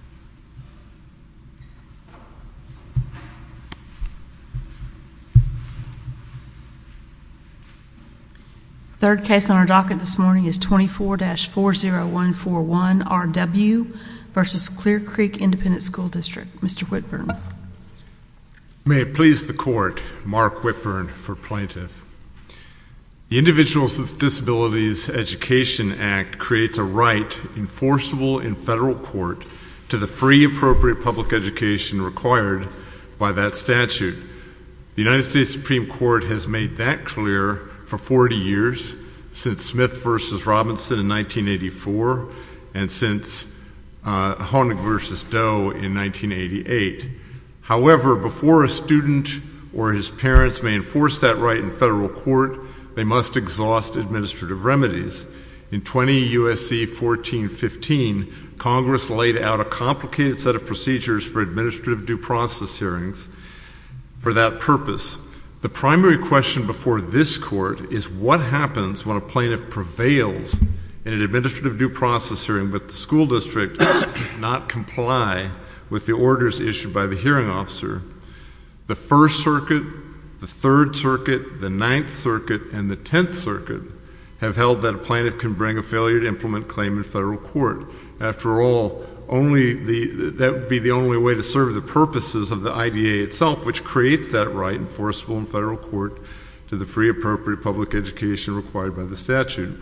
Mr. Whitburn. The third case on our docket this morning is 24-40141. R.W. v. Clear Creek Independent School District. Mr. Whitburn. I may it please the court, Mark Whitburn for plaintiff. The Individuals with Disabilities Education Act creates a right enforceable in federal court to the free appropriate public education required by that statute. The United States Supreme Court has made that clear for 40 years since Smith v. Robinson in 1984 and since Honig v. Doe in 1988. However, before a student or his parents may enforce that right in federal court, they must exhaust administrative remedies. In 20 U.S.C. 1415, Congress laid out a complicated set of procedures for administrative due process hearings for that purpose. The primary question before this court is what happens when a plaintiff prevails in an administrative due process hearing but the school district does not comply with the orders issued by the hearing officer. The First Circuit, the Third Circuit, the Ninth Circuit, and the Tenth Circuit have held that a plaintiff can bring a failure to implement claim in federal court. After all, that would be the only way to serve the purposes of the IDA itself, which creates that right enforceable in federal court to the free appropriate public education required by the statute.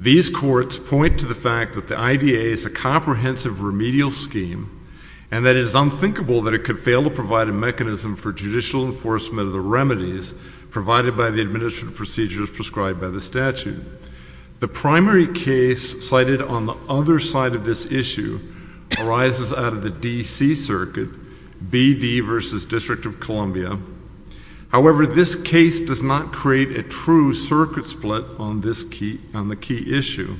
These courts point to the fact that the IDA is a comprehensive remedial scheme and that it is unthinkable that it could fail to provide a mechanism for judicial enforcement of the administrative procedures prescribed by the statute. The primary case cited on the other side of this issue arises out of the D.C. Circuit, B.D. versus District of Columbia. However, this case does not create a true circuit split on this key, on the key issue.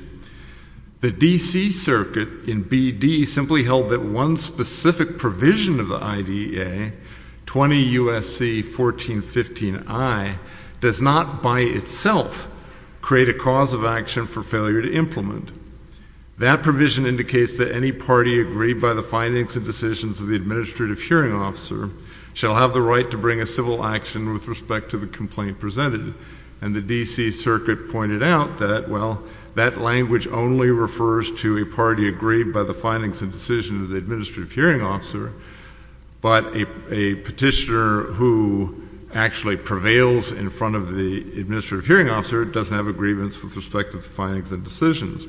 The D.C. Circuit in B.D. simply held that one specific provision of the IDA, 20 U.S.C. 1415I, does not by itself create a cause of action for failure to implement. That provision indicates that any party agreed by the findings and decisions of the administrative hearing officer shall have the right to bring a civil action with respect to the complaint presented. And the D.C. Circuit pointed out that, well, that language only refers to a party agreed by the findings and decisions of the administrative hearing officer, but a petitioner who actually prevails in front of the administrative hearing officer doesn't have a grievance with respect to the findings and decisions.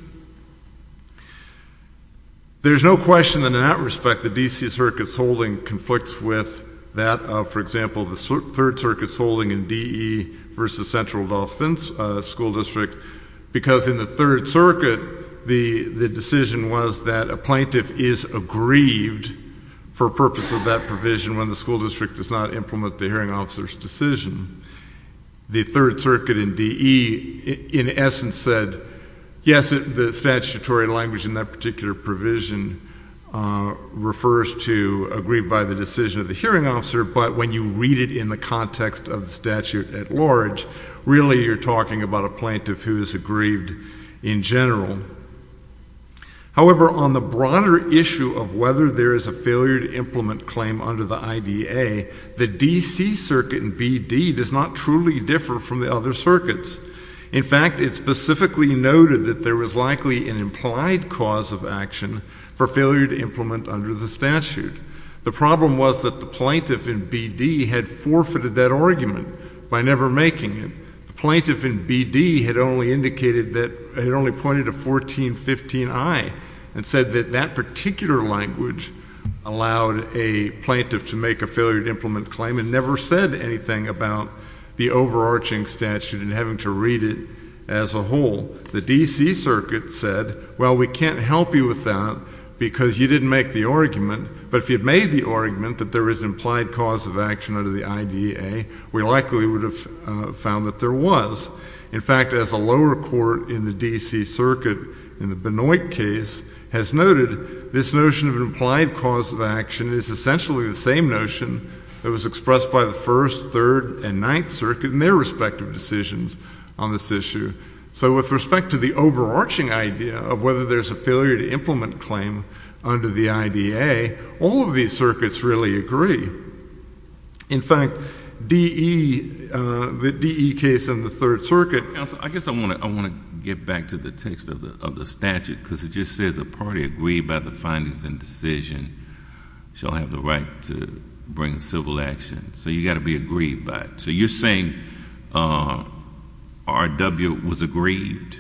There's no question that in that respect, the D.C. Circuit's holding conflicts with that of, for example, the Third Circuit's holding in D.E. versus Central Delphi School District, because in the Third Circuit, the hearing officer is agreed for purpose of that provision when the school district does not implement the hearing officer's decision. The Third Circuit in D.E. in essence said, yes, the statutory language in that particular provision refers to agreed by the decision of the hearing officer, but when you read it in the context of the statute at large, really you're talking about a plaintiff who is aggrieved in general. However, on the broader issue of whether there is a failure to implement claim under the IDA, the D.C. Circuit in B.D. does not truly differ from the other circuits. In fact, it specifically noted that there was likely an implied cause of action for failure to implement under the statute. The problem was that the plaintiff in B.D. had forfeited that argument by never making it. The plaintiff in B.D. had only indicated that, had only pointed a foregone conclusion to 1415I and said that that particular language allowed a plaintiff to make a failure to implement claim and never said anything about the overarching statute and having to read it as a whole. The D.C. Circuit said, well, we can't help you with that because you didn't make the argument, but if you had made the argument that there is an implied cause of action under the IDA, we likely would have found that there was. In fact, as a lower court in the D.C. Circuit in the Benoit case has noted, this notion of an implied cause of action is essentially the same notion that was expressed by the First, Third, and Ninth Circuit in their respective decisions on this issue. So with respect to the overarching idea of whether there's a failure to implement claim under the IDA, all of these circuits really agree. In fact, the DE case in the Third Circuit... I guess I want to get back to the text of the statute because it just says a party agreed by the findings and decision shall have the right to bring civil action. So you've got to be agreed by it. So you're saying R.W. was agreed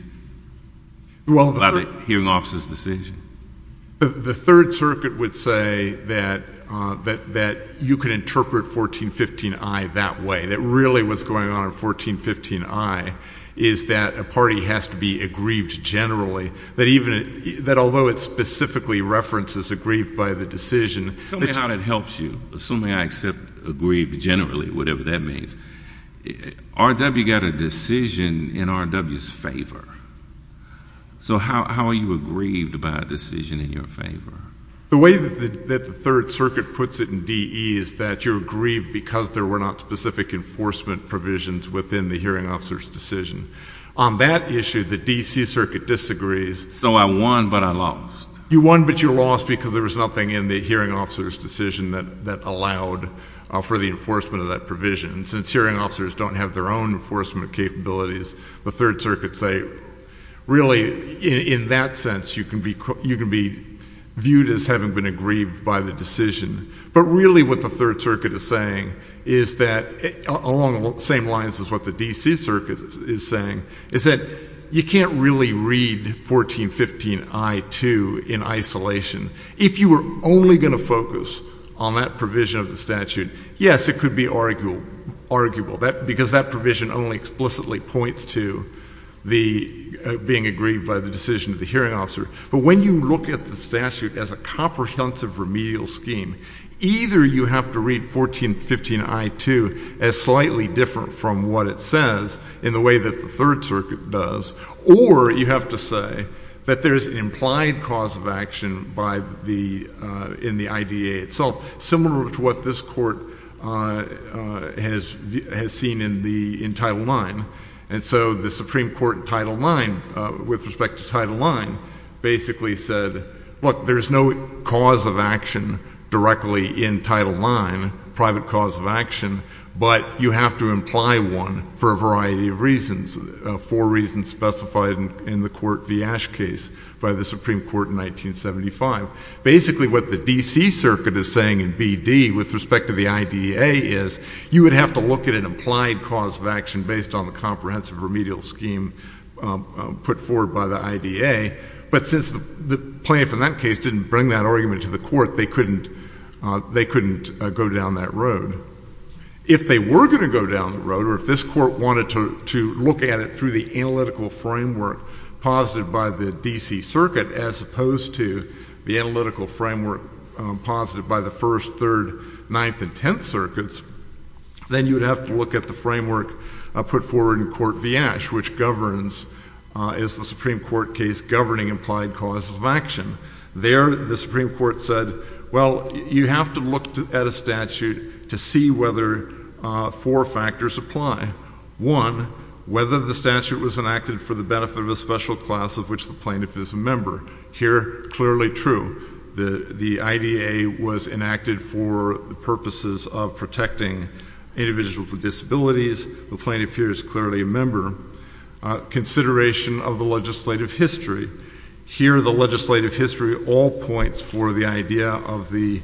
by the hearing officer's decision? The Third Circuit would say that you can interpret 1415I that way, that really what's going on in 1415I is that a party has to be agreed generally, that even... that although it specifically references agreed by the decision... Tell me how that helps you, assuming I accept agreed generally, whatever that means. R.W. got a decision in R.W.'s favor. So how are you aggrieved by a decision in your favor? The way that the Third Circuit puts it in DE is that you're aggrieved because there were not specific enforcement provisions within the hearing officer's decision. On that issue, the D.C. Circuit disagrees. So I won, but I lost. You won, but you lost because there was nothing in the hearing officer's decision that allowed for the enforcement of that provision. Since hearing officers don't have their own enforcement capabilities, the Third Circuit say, really, in that sense, you can be viewed as having been aggrieved by the decision. But really what the Third Circuit is saying is that, along the same lines as what the D.C. Circuit is saying, is that you can't really read 1415I-2 in isolation. If you were only going to focus on that provision of the statute, yes, it could be arguable because that provision only explicitly points to the being aggrieved by the decision of the hearing officer. But when you look at the statute as a comprehensive remedial scheme, either you have to read 1415I-2 as slightly different from what it says in the way that the Third Circuit does, or you have to say that there's an implied cause of action in the case that the U.S. Court has seen in Title IX. And so the Supreme Court in Title IX, with respect to Title IX, basically said, look, there's no cause of action directly in Title IX, private cause of action, but you have to imply one for a variety of reasons, four reasons specified in the court V. Ashe case by the Supreme Court in 1975. Basically what the D. Circuit is saying in B. D. with respect to the I. D. A. is, you would have to look at an implied cause of action based on the comprehensive remedial scheme put forward by the I. D. A. But since the plaintiff in that case didn't bring that argument to the court, they couldn't go down that road. If they were going to go down the road, or if this court wanted to look at it through the analytical framework posited by the D. D. First, Third, Ninth, and Tenth Circuits, then you would have to look at the framework put forward in court V. Ashe, which governs, is the Supreme Court case governing implied causes of action. There, the Supreme Court said, well, you have to look at a statute to see whether four factors apply. One, whether the statute was enacted for the benefit of a special class of which the plaintiff is a member. Here, clearly true. The I. A. was enacted for the purposes of protecting individuals with disabilities. The plaintiff here is clearly a member. Consideration of the legislative history. Here, the legislative history all points for the idea of the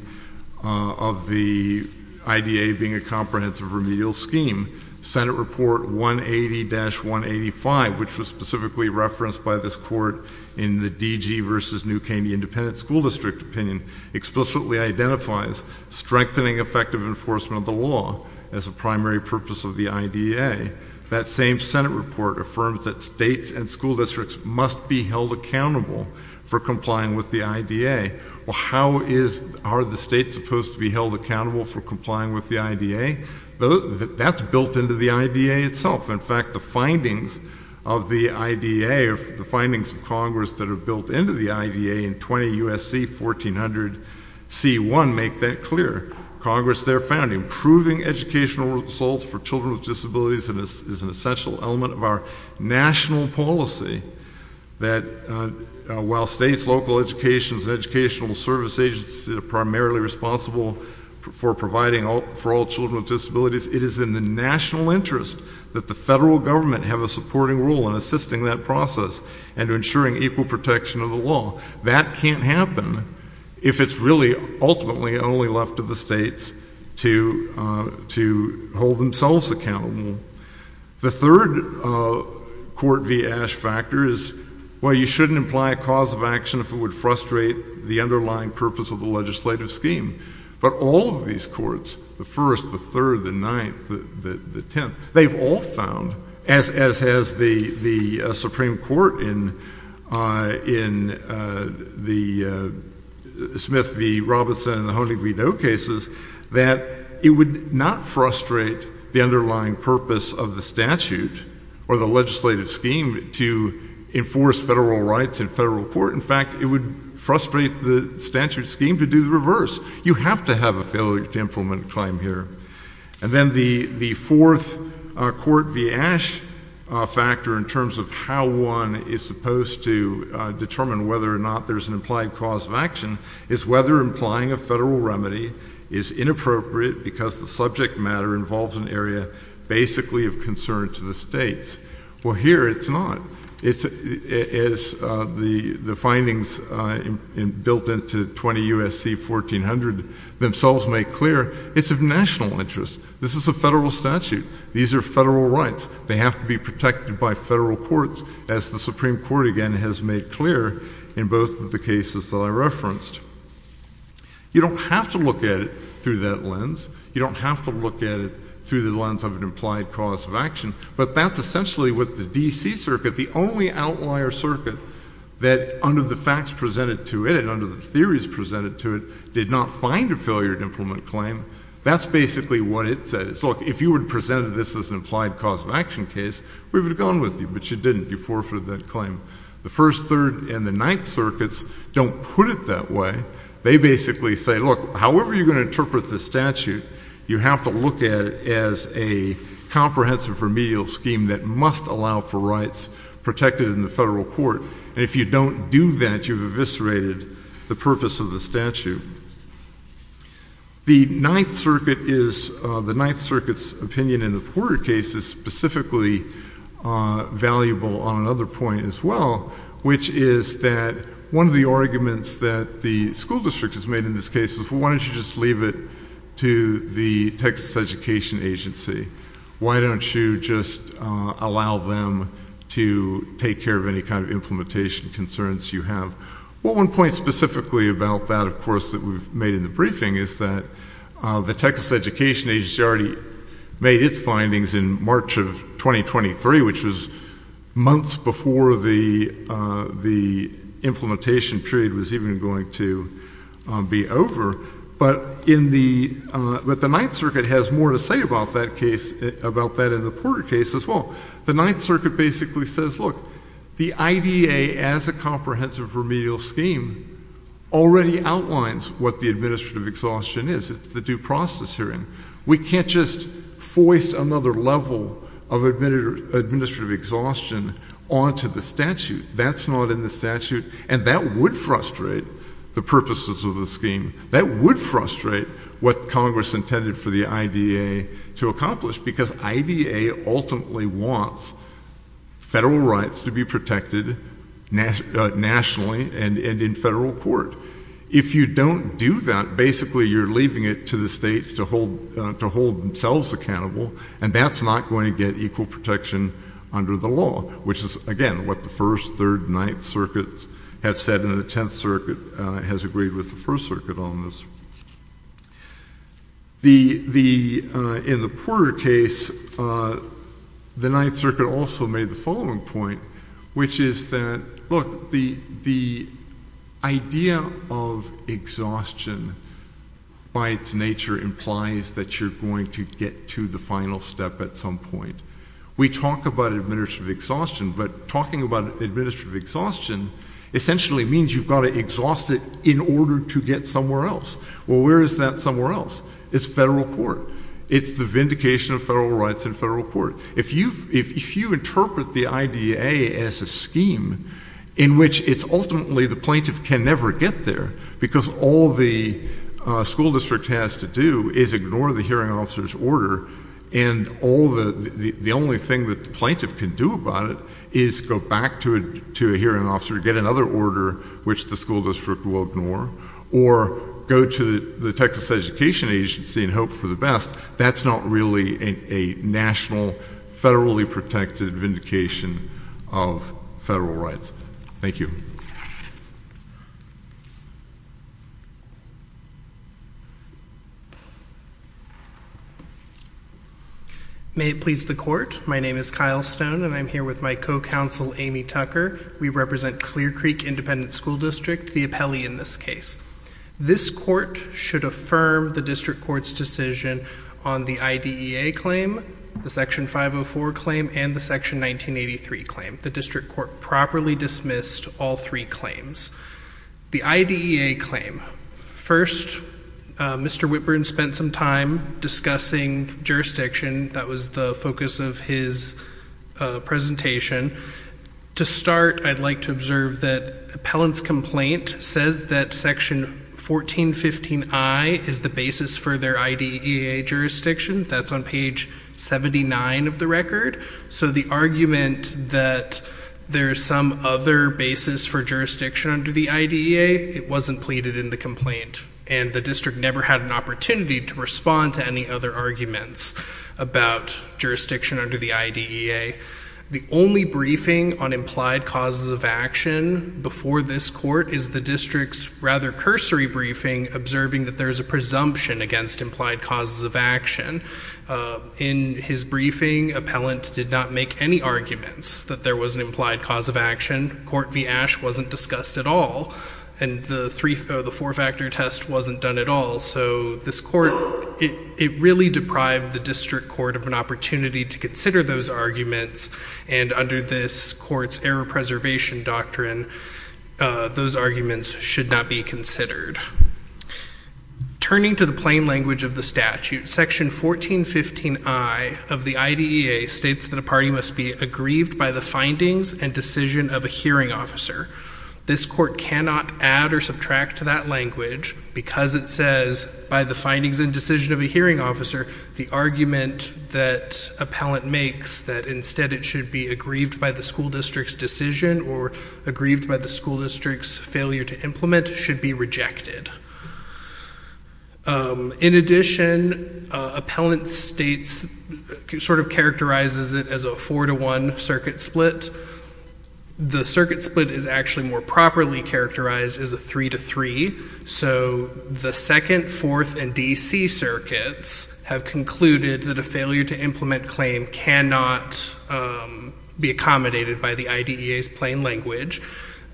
I. D. A. being a comprehensive remedial scheme. Senate Report 180-185, which was specifically referenced by this case, the I. versus New Caney Independent School District opinion explicitly identifies strengthening effective enforcement of the law as a primary purpose of the I. D. A. That same Senate report affirms that states and school districts must be held accountable for complying with the I. D. A. Well, how is, are the states supposed to be held accountable for complying with the I. D. A.? That's built into the I. D. A. itself. In fact, the findings of the I. D. and the findings of Congress that are built into the I. D. A. in 20 U. C. 1400 C. 1 make that clear. Congress there found improving educational results for children with disabilities is an essential element of our national policy that while states, local educations, educational service agencies are primarily responsible for providing for all children with disabilities, it is in the national interest that the federal government have a supporting role in assisting that process and ensuring equal protection of the law. That can't happen if it's really ultimately only left to the states to hold themselves accountable. The third court v. A. Factor is, well, you shouldn't imply a cause of action if it would frustrate the underlying purpose of the legislative scheme. But all of these courts, the first, the third, the ninth, the tenth, they've all found, as has the Supreme Court in the Smith v. Robinson and the Honig-Rideau cases, that it would not frustrate the underlying purpose of the statute or the legislative scheme to enforce federal rights in federal court. In fact, it would frustrate the statute scheme to do the reverse. You have to have a failure to implement a claim here. And then the fourth court v. Factor in terms of how one is supposed to determine whether or not there's an implied cause of action is whether implying a federal remedy is inappropriate because the subject matter involves an area basically of concern to the states. Well, here it's not. As the findings built into 20 U.S.C. 1400 themselves make clear, it's of national interest. This is a federal statute. These are federal rights. They have to be protected by federal courts, as the Supreme Court again has made clear in both of the cases that I referenced. You don't have to look at it through that lens. You don't have to look at it through the lens of an implied cause of action. But that's essentially what the D.C. Circuit, the only outlier circuit that, under the facts presented to it and under the theories presented to it, did not find a failure to implement a claim. That's basically what it says. Look, if you would have presented this as an implied cause of action case, we would have gone with you. But you didn't. You forfeited that claim. The First, Third, and the Ninth Circuits don't put it that way. They basically say, look, however you're going to interpret the statute, you have to look at it as a comprehensive remedial scheme that must allow for rights protected in the federal court. And if you don't do that, you've eviscerated the purpose of the statute. The Ninth Circuit is, the Ninth Circuit's opinion in the Porter case is specifically valuable on another point as well, which is that one of the arguments that the school district has made in this case is, well, why don't you just leave it to the Texas Education Agency? Why don't you just allow them to take care of any kind of implementation concerns you have? Well, one point specifically about that, of course, that we've made in the briefing is that the Texas Education Agency already made its findings in March of 2023, which was months before the implementation period was even going to be over. But the Ninth Circuit has more to say about that case, about that in the Porter case as well. The Ninth Circuit basically says, look, the IDA as a comprehensive remedial scheme already outlines what the administrative exhaustion is. It's the due process hearing. We can't just foist another level of administrative exhaustion onto the statute. That's not in the statute. And that would frustrate the purposes of the scheme. That would frustrate what Congress intended for the IDA to accomplish, because IDA ultimately wants federal rights to be protected, both nationally and in federal court. If you don't do that, basically you're leaving it to the states to hold themselves accountable, and that's not going to get equal protection under the law, which is, again, what the First, Third, Ninth Circuits have said, and the Tenth Circuit has agreed with the First Circuit on this. In the Porter case, the Ninth Circuit also made the following point, which is that, look, the idea of exhaustion by its nature implies that you're going to get to the final step at some point. We talk about administrative exhaustion, but talking about administrative exhaustion essentially means you've got to exhaust it in order to get somewhere else. Well, where is that somewhere else? It's federal court. It's the vindication of federal rights in federal court. If you interpret the IDA as a scheme in which it's ultimately the plaintiff can never get there, because all the school district has to do is ignore the hearing officer's order, and the only thing that the plaintiff can do about it is go back to a hearing officer, get another order, which the school district will ignore, or go to the Texas Education Agency and hope for the best, that's not really a national, federally protected vindication of federal rights. Thank you. May it please the Court, my name is Kyle Stone, and I'm here with my co-counsel Amy Tucker. We represent Clear Creek Independent School District, the appellee in this case. This court should affirm the district court's decision on the IDEA claim, the Section 504 claim, and the Section 1983 claim. The district court properly dismissed all three claims. The IDEA claim. First, Mr. Whitburn spent some time discussing jurisdiction. That was the focus of his presentation. To start, I'd like to observe that appellant's complaint says that Section 1415I is the basis for their IDEA jurisdiction. That's on page 79 of the record. So the argument that there's some other basis for jurisdiction under the IDEA, it wasn't pleaded in the complaint, and the district never had an opportunity to respond to any other arguments about jurisdiction under the IDEA. The only briefing on implied causes of action before this court is the district's rather cursory briefing observing that there's a presumption against implied causes of action. In his briefing, appellant did not make any arguments that there was an implied cause of action. Court v. Ashe wasn't discussed at all, and the four-factor test wasn't done at all. So this court, it really deprived the district court of an opportunity to consider those arguments, and under this court's error preservation doctrine, those arguments should not be considered. Turning to the plain language of the statute, Section 1415I of the IDEA states that a party must be aggrieved by the findings and decision of a hearing officer. This court cannot add or subtract to that language because it says by the findings and decision of a hearing officer the argument that appellant makes that instead it should be aggrieved by the school district's decision or aggrieved by the school district's failure to implement should be rejected. In addition, appellant states sort of characterizes it as a 4-to-1 circuit split. The circuit split is actually more properly characterized as a 3-to-3, so the 2nd, 4th, and D.C. circuits have concluded that a failure to implement claim cannot be accommodated by the IDEA's plain language.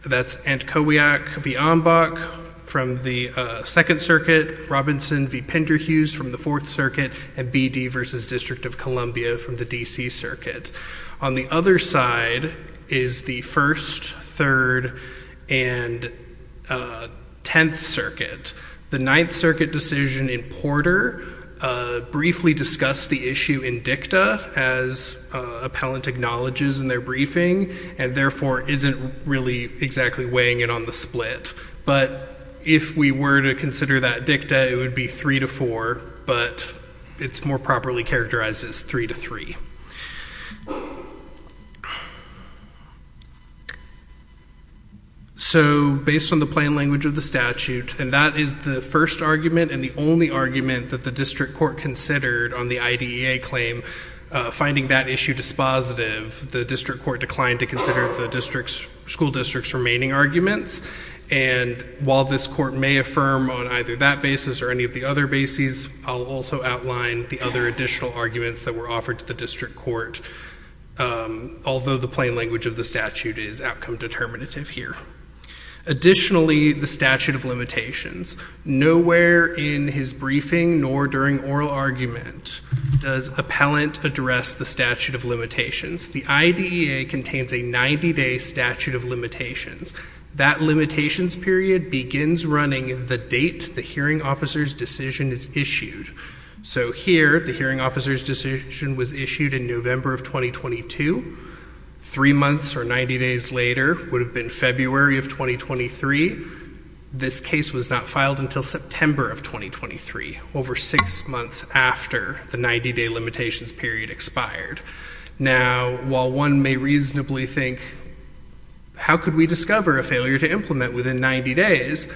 That's Antkowiak v. Ambach from the 2nd Circuit, Robinson v. Penderhughes from the 4th Circuit, and B.D. v. District of Columbia from the D.C. Circuit. On the other side is the 1st, 3rd, and 10th Circuit. The 9th Circuit decision in Porter briefly discussed the issue in dicta as appellant acknowledges in their briefing and therefore isn't really exactly weighing it on the split. If we were to consider that dicta, it would be 3-to-4, but it's more properly characterized as 3-to-3. Based on the plain language of the statute, and that is the 1st argument that the district court considered on the IDEA claim finding that issue dispositive, the district court declined to consider the school district's remaining arguments, and while this court may affirm on either that basis or any of the other bases, I'll also outline the other additional arguments that were offered to the district court although the plain language of the statute is outcome determinative here. Additionally, the statute of limitations. Nowhere in his briefing nor during oral argument does appellant address the statute of limitations. The IDEA contains a 90-day statute of limitations. That limitations period begins running the date the hearing officer's decision is issued. So here, the hearing officer's decision was issued in November of 2022. Three months or 90 days later would have been February of 2023. This case was not filed until September of 2023 over six months after the 90-day limitations period expired. Now, while one may reasonably think how could we discover a failure to implement within 90 days?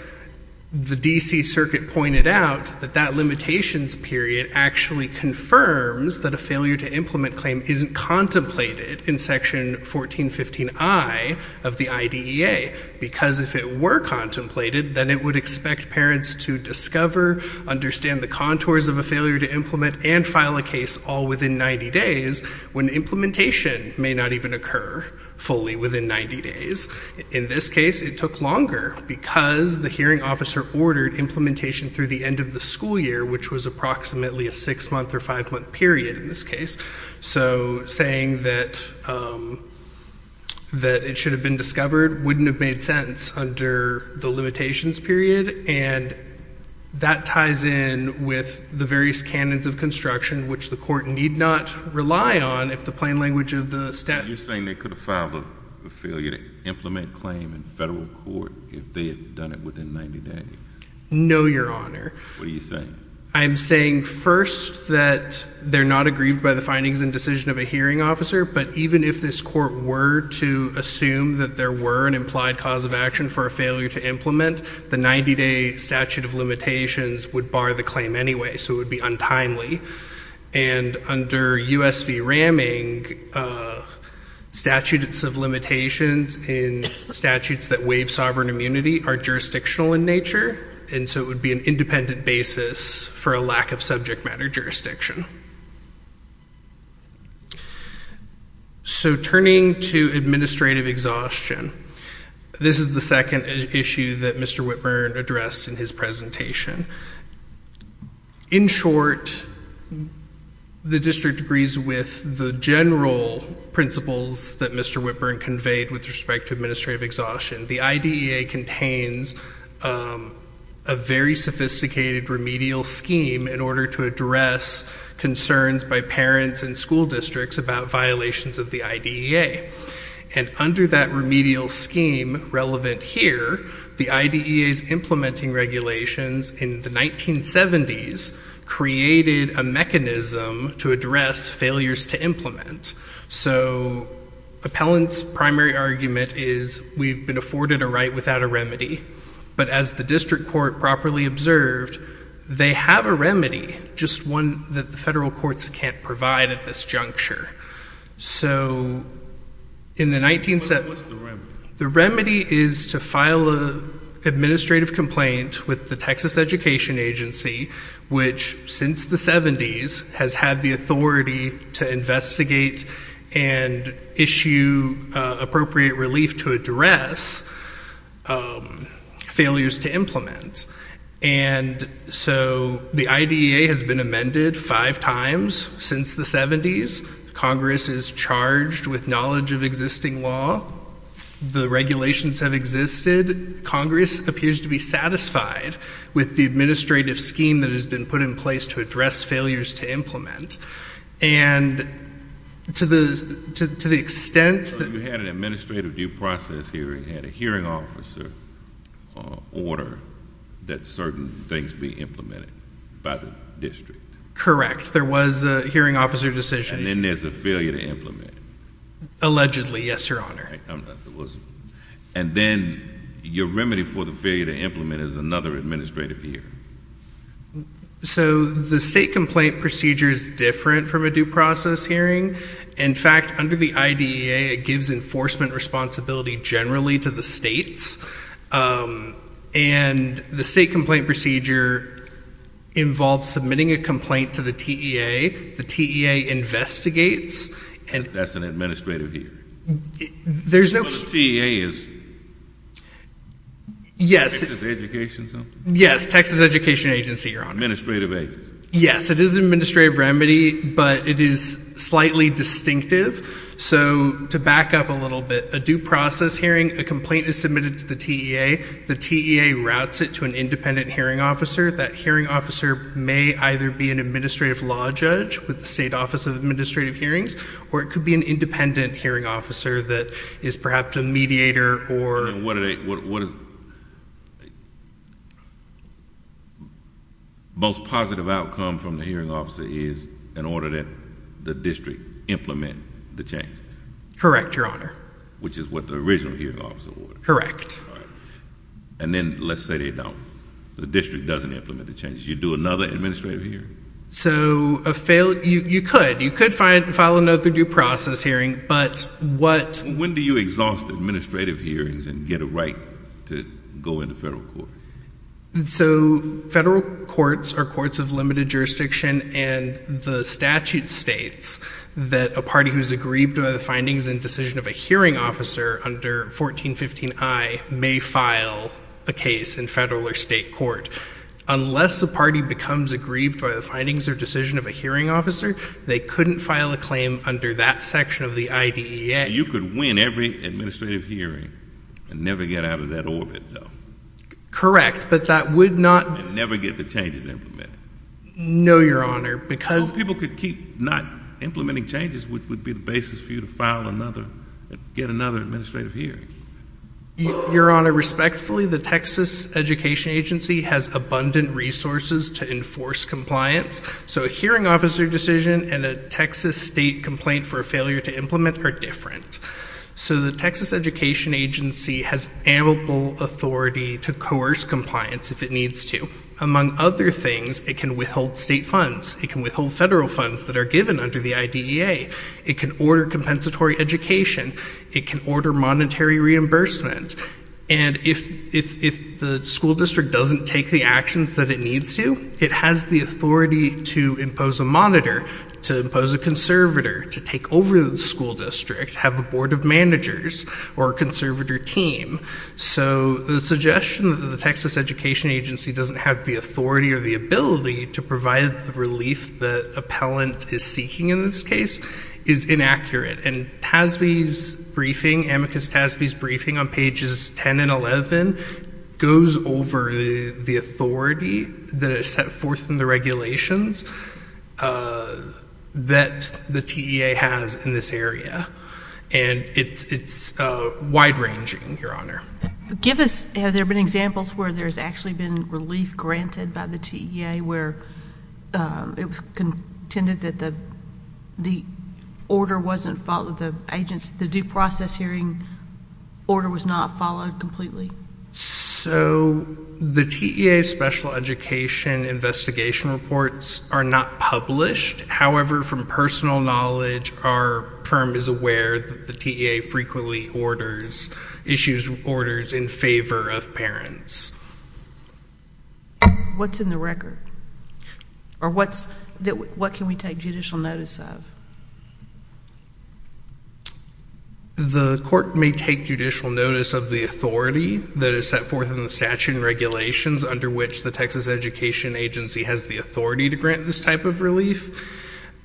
The D.C. Circuit pointed out that that limitations period actually confirms that a failure to implement claim isn't contemplated in section 1415I of the IDEA because if it were contemplated, then it would expect parents to discover understand the contours of a failure to implement and file a case all within 90 days when implementation may not even occur fully within 90 days. In this case, it took longer because the hearing officer ordered implementation through the end of the school year, which was approximately a six-month or five-month period in this case. So, saying that it should have been discovered wouldn't have made sense under the limitations period and that ties in with the various canons of construction, which the court need not rely on if the plain language of the statute... You're saying they could have filed a failure to implement claim in federal court if they had done it within 90 days? No, Your Honor. What are you saying? I'm saying, first, that they're not aggrieved by the findings and decision of a hearing officer, but even if this court were to assume that there were an implied cause of action for a failure to implement, the 90-day statute of limitations would bar the claim anyway, so it would be untimely. And under US v. Ramming, statutes of limitations in statutes that waive sovereign immunity are jurisdictional in nature, and so it would be an independent basis for a lack of subject matter jurisdiction. So, turning to administrative exhaustion, this is the second issue that Mr. Whitburn addressed in his presentation. In short, the district agrees with the general principles that Mr. Whitburn conveyed with respect to administrative exhaustion. The IDEA contains a very sophisticated remedial scheme in order to address concerns by parents and school districts about violations of the IDEA, and under that remedial scheme relevant here, the IDEA's implementing regulations in the 1970s created a mechanism to address failures to implement. So, appellant's primary argument is, we've been afforded a right without a remedy, but as the district court properly observed, they have a remedy, just one that the federal courts can't provide at this juncture. The remedy is to file an administrative complaint with the Texas Education Agency, which, since the 70s, has had the authority to investigate and issue appropriate relief to address failures to implement. And so, the IDEA has been amended five times since the 70s. Congress is charged with knowledge of existing law. The regulations have existed. Congress appears to be satisfied with the administrative scheme that has been put in place to address failures to implement. And, to the extent that you had an administrative due process hearing, had a hearing officer order that certain things be implemented by the district. Correct. There was a hearing officer decision. And then there's a failure to implement. Allegedly, yes, Your Honor. And then, your remedy for the failure to implement is another administrative hearing. So, the state complaint procedure is different from a due process hearing. In fact, under the IDEA, it gives enforcement responsibility generally to the states. And, the state complaint procedure involves submitting a complaint to the TEA. The TEA investigates. That's an administrative hearing. Yes. Texas Education Agency, Your Honor. Administrative agency. Yes, it is an administrative remedy, but it is slightly distinctive. So, to back up a little bit, a due process hearing, a complaint is submitted to the TEA. The TEA routes it to an independent hearing officer. That hearing officer may either be an administrative law judge with the State Office of Administrative Hearings, or it could be an independent hearing officer that is perhaps a mediator or... Most positive outcome from the hearing officer is an order that the district implement the changes. Correct, Your Honor. Which is what the original hearing officer ordered. Correct. And then, let's say they don't. The district doesn't implement the changes. You do another administrative hearing. So, you could. You could file another due process hearing, but what... When do you exhaust administrative hearings and get a right to go into federal court? So, federal courts are courts of limited jurisdiction, and the statute states that a party who is aggrieved by the findings and decision of a hearing officer under 1415I may file a case in federal or state court. Unless a party becomes aggrieved by the findings or decision of a hearing officer, they couldn't file a claim under that section of the IDEA. You could win every administrative hearing and never get out of that orbit, though. Correct, but that would not... And never get the changes implemented. No, Your Honor, because... Well, people could keep not implementing changes, which would be the basis for you to file another, get another administrative hearing. Your Honor, respectfully, the Texas Education Agency has abundant resources to enforce compliance, so a hearing officer decision and a Texas state complaint for a failure to implement are different. So, the Texas Education Agency has amiable authority to coerce compliance if it needs to. Among other things, it can withhold state funds. It can withhold federal funds that are given under the IDEA. It can order compensatory education. It can order monetary reimbursement. And if the school district doesn't take the actions that it needs to, it has the authority to impose a monitor, to impose a conservator, to take over the school district, have a board of managers, or a conservator team. So, the suggestion that the Texas Education Agency doesn't have the authority or the ability to provide the relief the appellant is seeking in this case is inaccurate. And TASB's briefing, Amicus TASB's briefing on pages 10 and 11, goes over the authority that is set forth in the regulations that the TEA has in this area. And it's wide-ranging, Your Honor. Give us, have there been examples where there's actually been relief granted by the TEA where it was contended that the order wasn't followed, the agents, the due process hearing order was not followed completely? So, the TEA special education investigation reports are not published. However, from personal knowledge, our firm is aware that the TEA frequently issues orders in favor of parents. What's in the record? Or what can we take judicial notice of? The court may take judicial notice of the authority that is set forth in the statute and regulations under which the Texas Education Agency has the authority to grant this type of relief.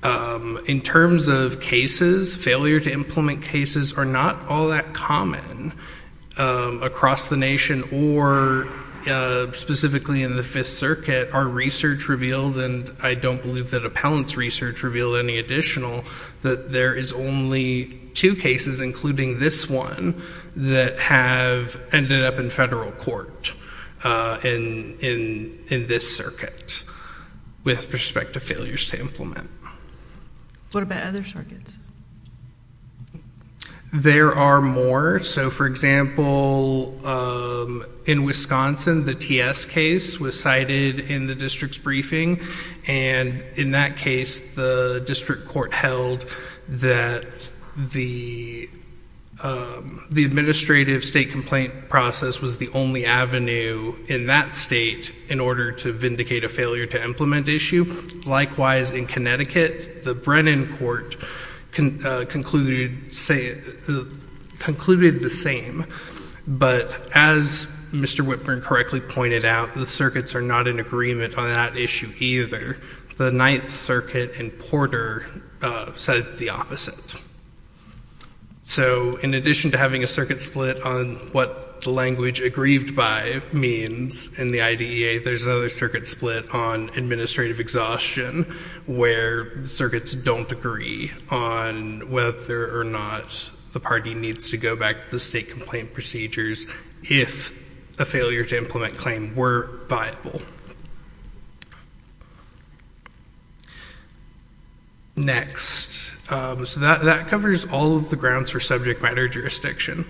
In terms of cases, failure to implement cases are not all that common across the nation or specifically in the Fifth Circuit. Our research revealed, and I don't believe that appellant's research revealed any additional, that there is only two cases, including this one, that have ended up in federal court in this circuit with respect to failures to implement. What about other circuits? There are more. So, for example, in Wisconsin, the TS case was cited in the district's briefing, and in that case, the district court held that the administrative state complaint process was the only avenue in that state in order to vindicate a failure to implement issue. Likewise, in Connecticut, the Brennan court concluded the same, but as Mr. Whitburn correctly pointed out, the circuits are not in agreement on that issue either. The Ninth Circuit and Porter said the opposite. So, in addition to having a circuit split on what the language aggrieved by means in the IDEA, there's another circuit split on administrative exhaustion where circuits don't agree on whether or not the party needs to go back to the state complaint procedures if a failure to implement claim were viable. Next. So, that covers all of the grounds for subject matter jurisdiction.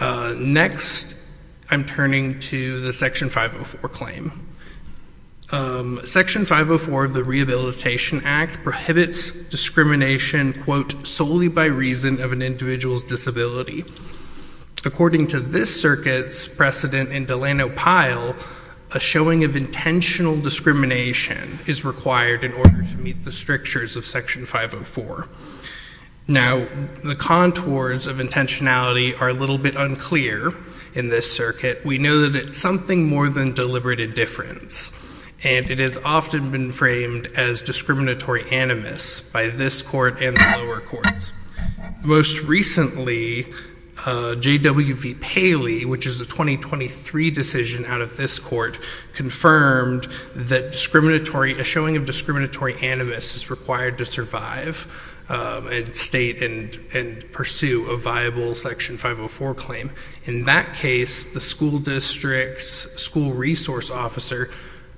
Next, I'm turning to the Section 504 claim. Section 504 of the Rehabilitation Act prohibits discrimination, quote, solely by reason of an individual's disability. According to this circuit's precedent in Delano Pyle, a showing of intentional discrimination is required in order to meet the strictures of Section 504. Now, the contours of intentionality are a little bit unclear in this circuit. We know that it's something more than deliberate indifference. And it has often been framed as discriminatory animus by this court and the lower courts. Most recently, J.W.V. Paley, which is a 2023 decision out of this court, confirmed that discriminatory, a showing of discriminatory animus is required to survive at state and pursue a viable Section 504 claim. In that case, the school district's school resource officer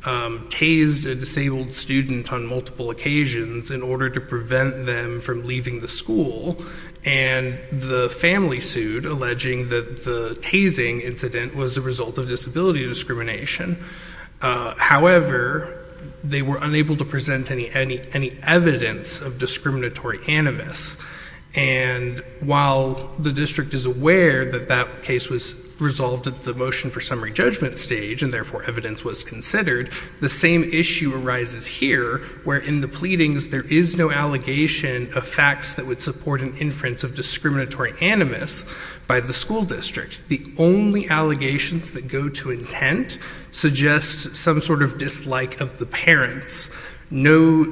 tased a disabled student on multiple occasions in order to prevent them from leaving the school. And the family sued, alleging that the tasing incident was a result of disability discrimination. However, they were unable to present any evidence of discriminatory animus. And while the district is aware that that case was resolved at the motion for summary judgment stage, and therefore evidence was considered, the same issue arises here, where in the pleadings there is no allegation of facts that would support an inference of discriminatory animus by the school district. The only allegations that go to intent suggest some sort of dislike of the parents. No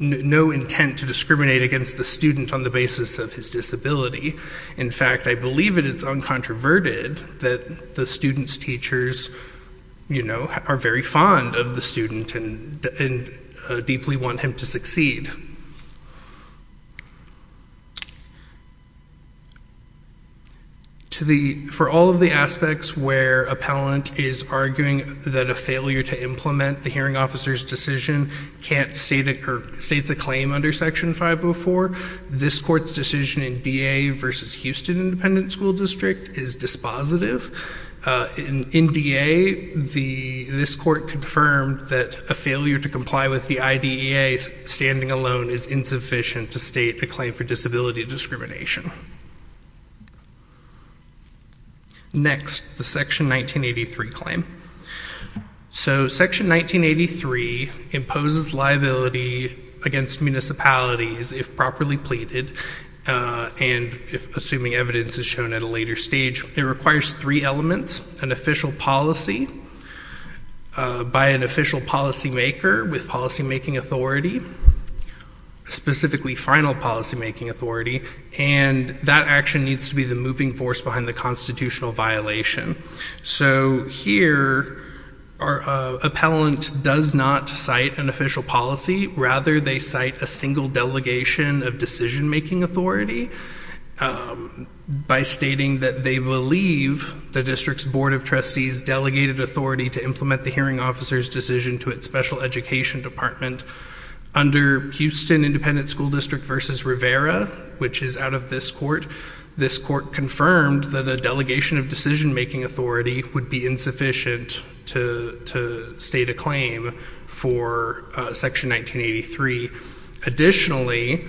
intent to discriminate against the student on the basis of his disability. In fact, I believe that it's uncontroverted that the student's teachers are very fond of the student and deeply want him to succeed. For all of the aspects where appellant is arguing that a failure to implement the hearing officer's decision can't state a claim under Section 504, this court's decision in DA versus Houston Independent School District is dispositive. In DA, this court confirmed that a failure to comply with the IDEA standing alone is insufficient to state a claim for disability discrimination. Next, the Section 1983 claim. So, Section 1983 imposes liability against municipalities if properly pleaded and, assuming evidence is shown at a later stage, it requires three elements, an official policy by an official policymaker with policymaking authority, specifically final policymaking authority, and that action needs to be the moving force behind the constitutional violation. So, here, our appellant does not cite an official policy. Rather, they cite a single delegation of decisionmaking authority by stating that they believe the district's Board of Trustees delegated authority to implement the hearing officer's decision to its special education department. Under Houston Independent School District versus Rivera, which is out of this court, this court confirmed that a delegation of decisionmaking authority would be insufficient to state a claim for Section 1983. Additionally,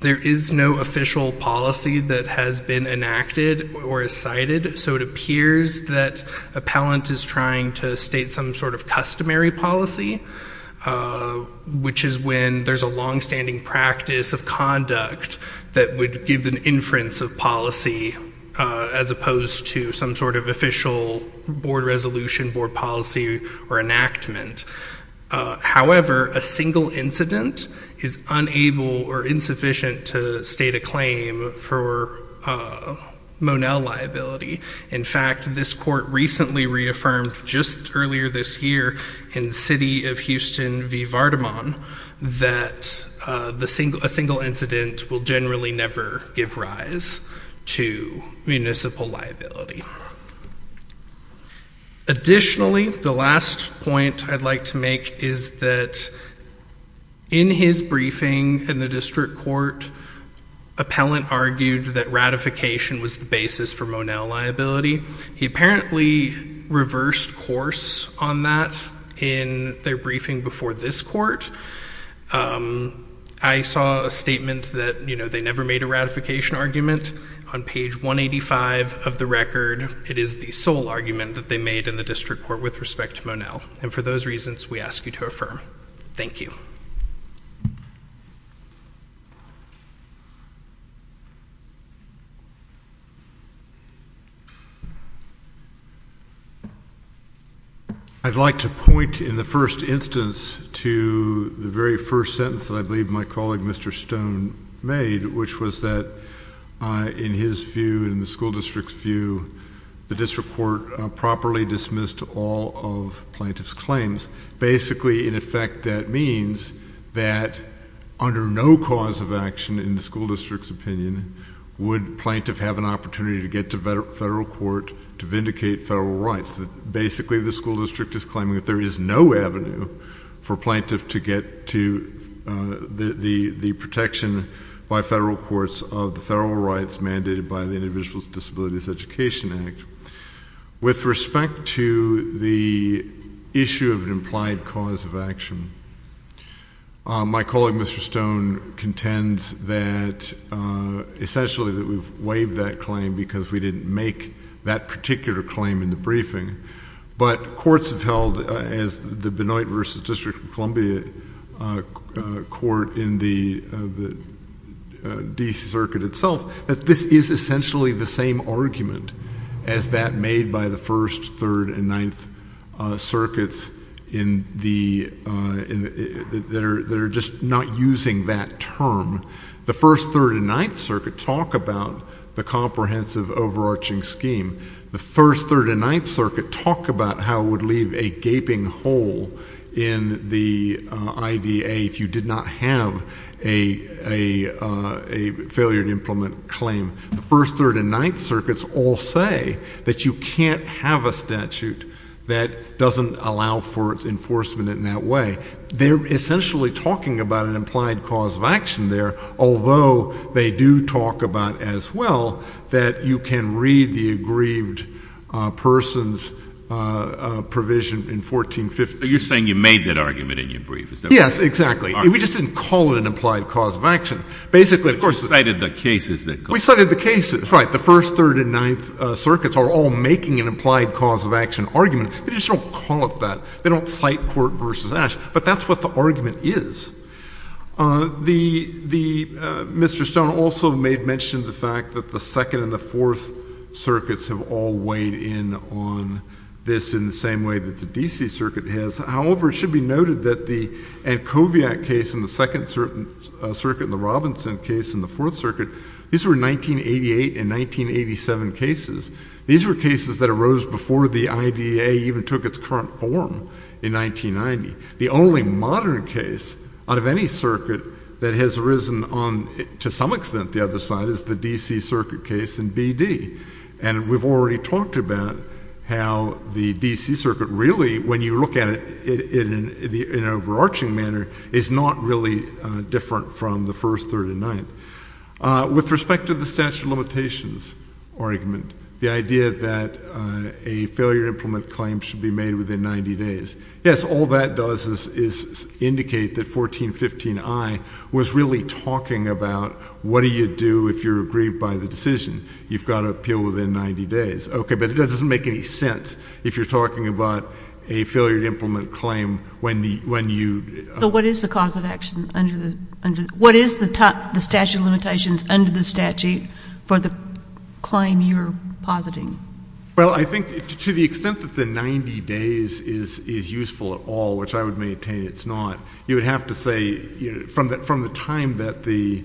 there is no official policy that has been enacted or is cited, so it appears that appellant is trying to state some sort of customary policy, which is when there's a longstanding practice of conduct that would give an inference of policy as opposed to some sort of official board resolution, board policy, or enactment. However, a single incident is unable or insufficient to state a claim for Monell liability. In fact, this court recently reaffirmed just earlier this year in the city of Houston v. Vardemont that a single incident will generally never give rise to municipal liability. Additionally, the last point I'd like to make is that in his briefing in the district court, appellant argued that ratification was the basis for Monell liability. He apparently reversed course on that in their briefing before this court. I saw a argument that they never made a ratification argument. On page 185 of the record, it is the sole argument that they made in the district court with respect to Monell. And for those reasons, we ask you to affirm. Thank you. I'd like to point in the first instance to the very first sentence that I believe my colleague, Mr. Stone, made, which was that in his view, in the school district's view, the district court properly dismissed all of plaintiff's claims. Basically, in effect, that means that under no cause of action in the school district's opinion would plaintiff have an opportunity to get to federal court to vindicate federal rights. Basically, the school district is claiming that there is no avenue for plaintiff to get to the protection by federal courts of the federal rights mandated by the Individuals with Disabilities Education Act. With respect to the issue of an implied cause of action, my colleague, Mr. Stone, contends that essentially that we've waived that claim because we didn't make that particular claim in the briefing. But courts have held as the Benoit v. District of Columbia court in the D.C. Circuit itself that this is essentially the same argument as that made by the 1st, 3rd, and 9th Circuits that are just not using that term. The 1st, 3rd, and 9th Circuit talk about the comprehensive overarching scheme. The 1st, 3rd, and 9th Circuit talk about how it would leave a gaping hole in the IDA if you did not have a failure to implement claim. The 1st, 3rd, and 9th Circuits all say that you can't have a statute that doesn't allow for enforcement in that way. They're essentially talking about an implied cause of action there, although they do talk about as well that you can read the grieved person's provision in 1450. Are you saying you made that argument in your brief? Yes, exactly. We just didn't call it an implied cause of action. But you cited the cases. We cited the cases. Right. The 1st, 3rd, and 9th Circuits are all making an implied cause of action argument. They just don't call it that. They don't cite court v. Ashe. But that's what the argument is. Mr. Stone also made mention of the fact that the 4th Circuits have all weighed in on this in the same way that the D.C. Circuit has. However, it should be noted that the Ancoviac case in the 2nd Circuit and the Robinson case in the 4th Circuit, these were 1988 and 1987 cases. These were cases that arose before the IDA even took its current form in 1990. The only modern case out of any circuit that has arisen on, to some extent, the other side is the D.C. Circuit case in B.D. And we've already talked about how the D.C. Circuit really, when you look at it in an overarching manner, is not really different from the 1st, 3rd, and 9th. With respect to the statute of limitations argument, the idea that a failure to implement a claim should be made within 90 days, yes, all that does is indicate that 1415I was really talking about what do you do if you're aggrieved by the decision? You've got to appeal within 90 days. Okay, but that doesn't make any sense if you're talking about a failure to implement a claim when you... So what is the cause of action? What is the statute of limitations under the statute for the claim you're positing? Well, I think to the extent that the 90 days is useful at all, which I would maintain it's not, you would have to say from the time that the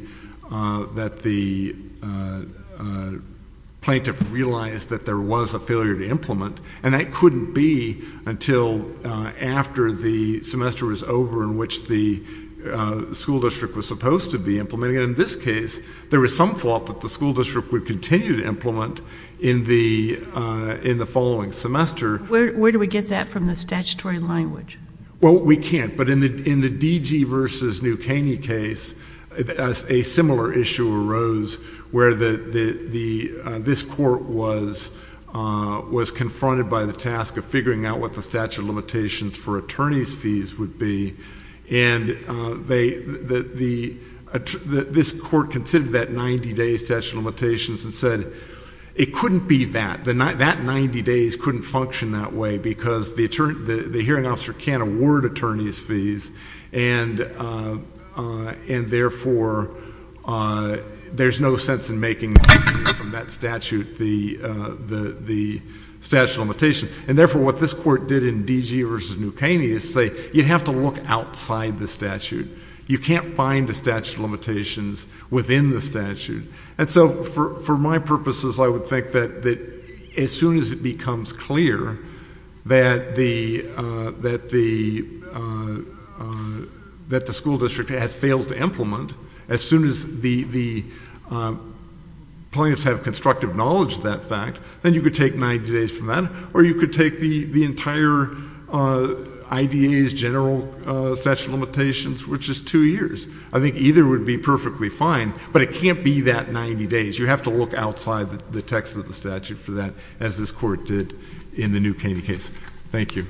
plaintiff realized that there was a failure to implement, and that couldn't be until after the semester was over in which the school district was supposed to be implementing it. In this case, there was some thought that the school district would continue to implement in the following semester. Where do we get that from the statutory language? Well, we can't, but in the DG versus New Caney case, a similar issue arose where this court was confronted by the task of figuring out what the statute of limitations for attorney's fees would be, and this court considered that 90 day statute of limitations and said it couldn't be that. That 90 days couldn't function that way because the hearing officer can't award attorney's fees and therefore there's no sense in making from that statute the statute of limitations. And therefore what this court did in DG versus New Caney is say you have to look outside the statute. You can't find the statute of limitations within the statute. And so for my purposes I would think that as soon as it becomes clear that the school district has failed to implement, as soon as the plaintiffs have constructive knowledge of that fact, then you could take 90 days from that or you could take the entire IDA's general statute of limitations which is two years. I think either would be perfectly fine, but it can't be that 90 days. You have to look outside the text of the statute for that as this court did in the New Caney case. Thank you.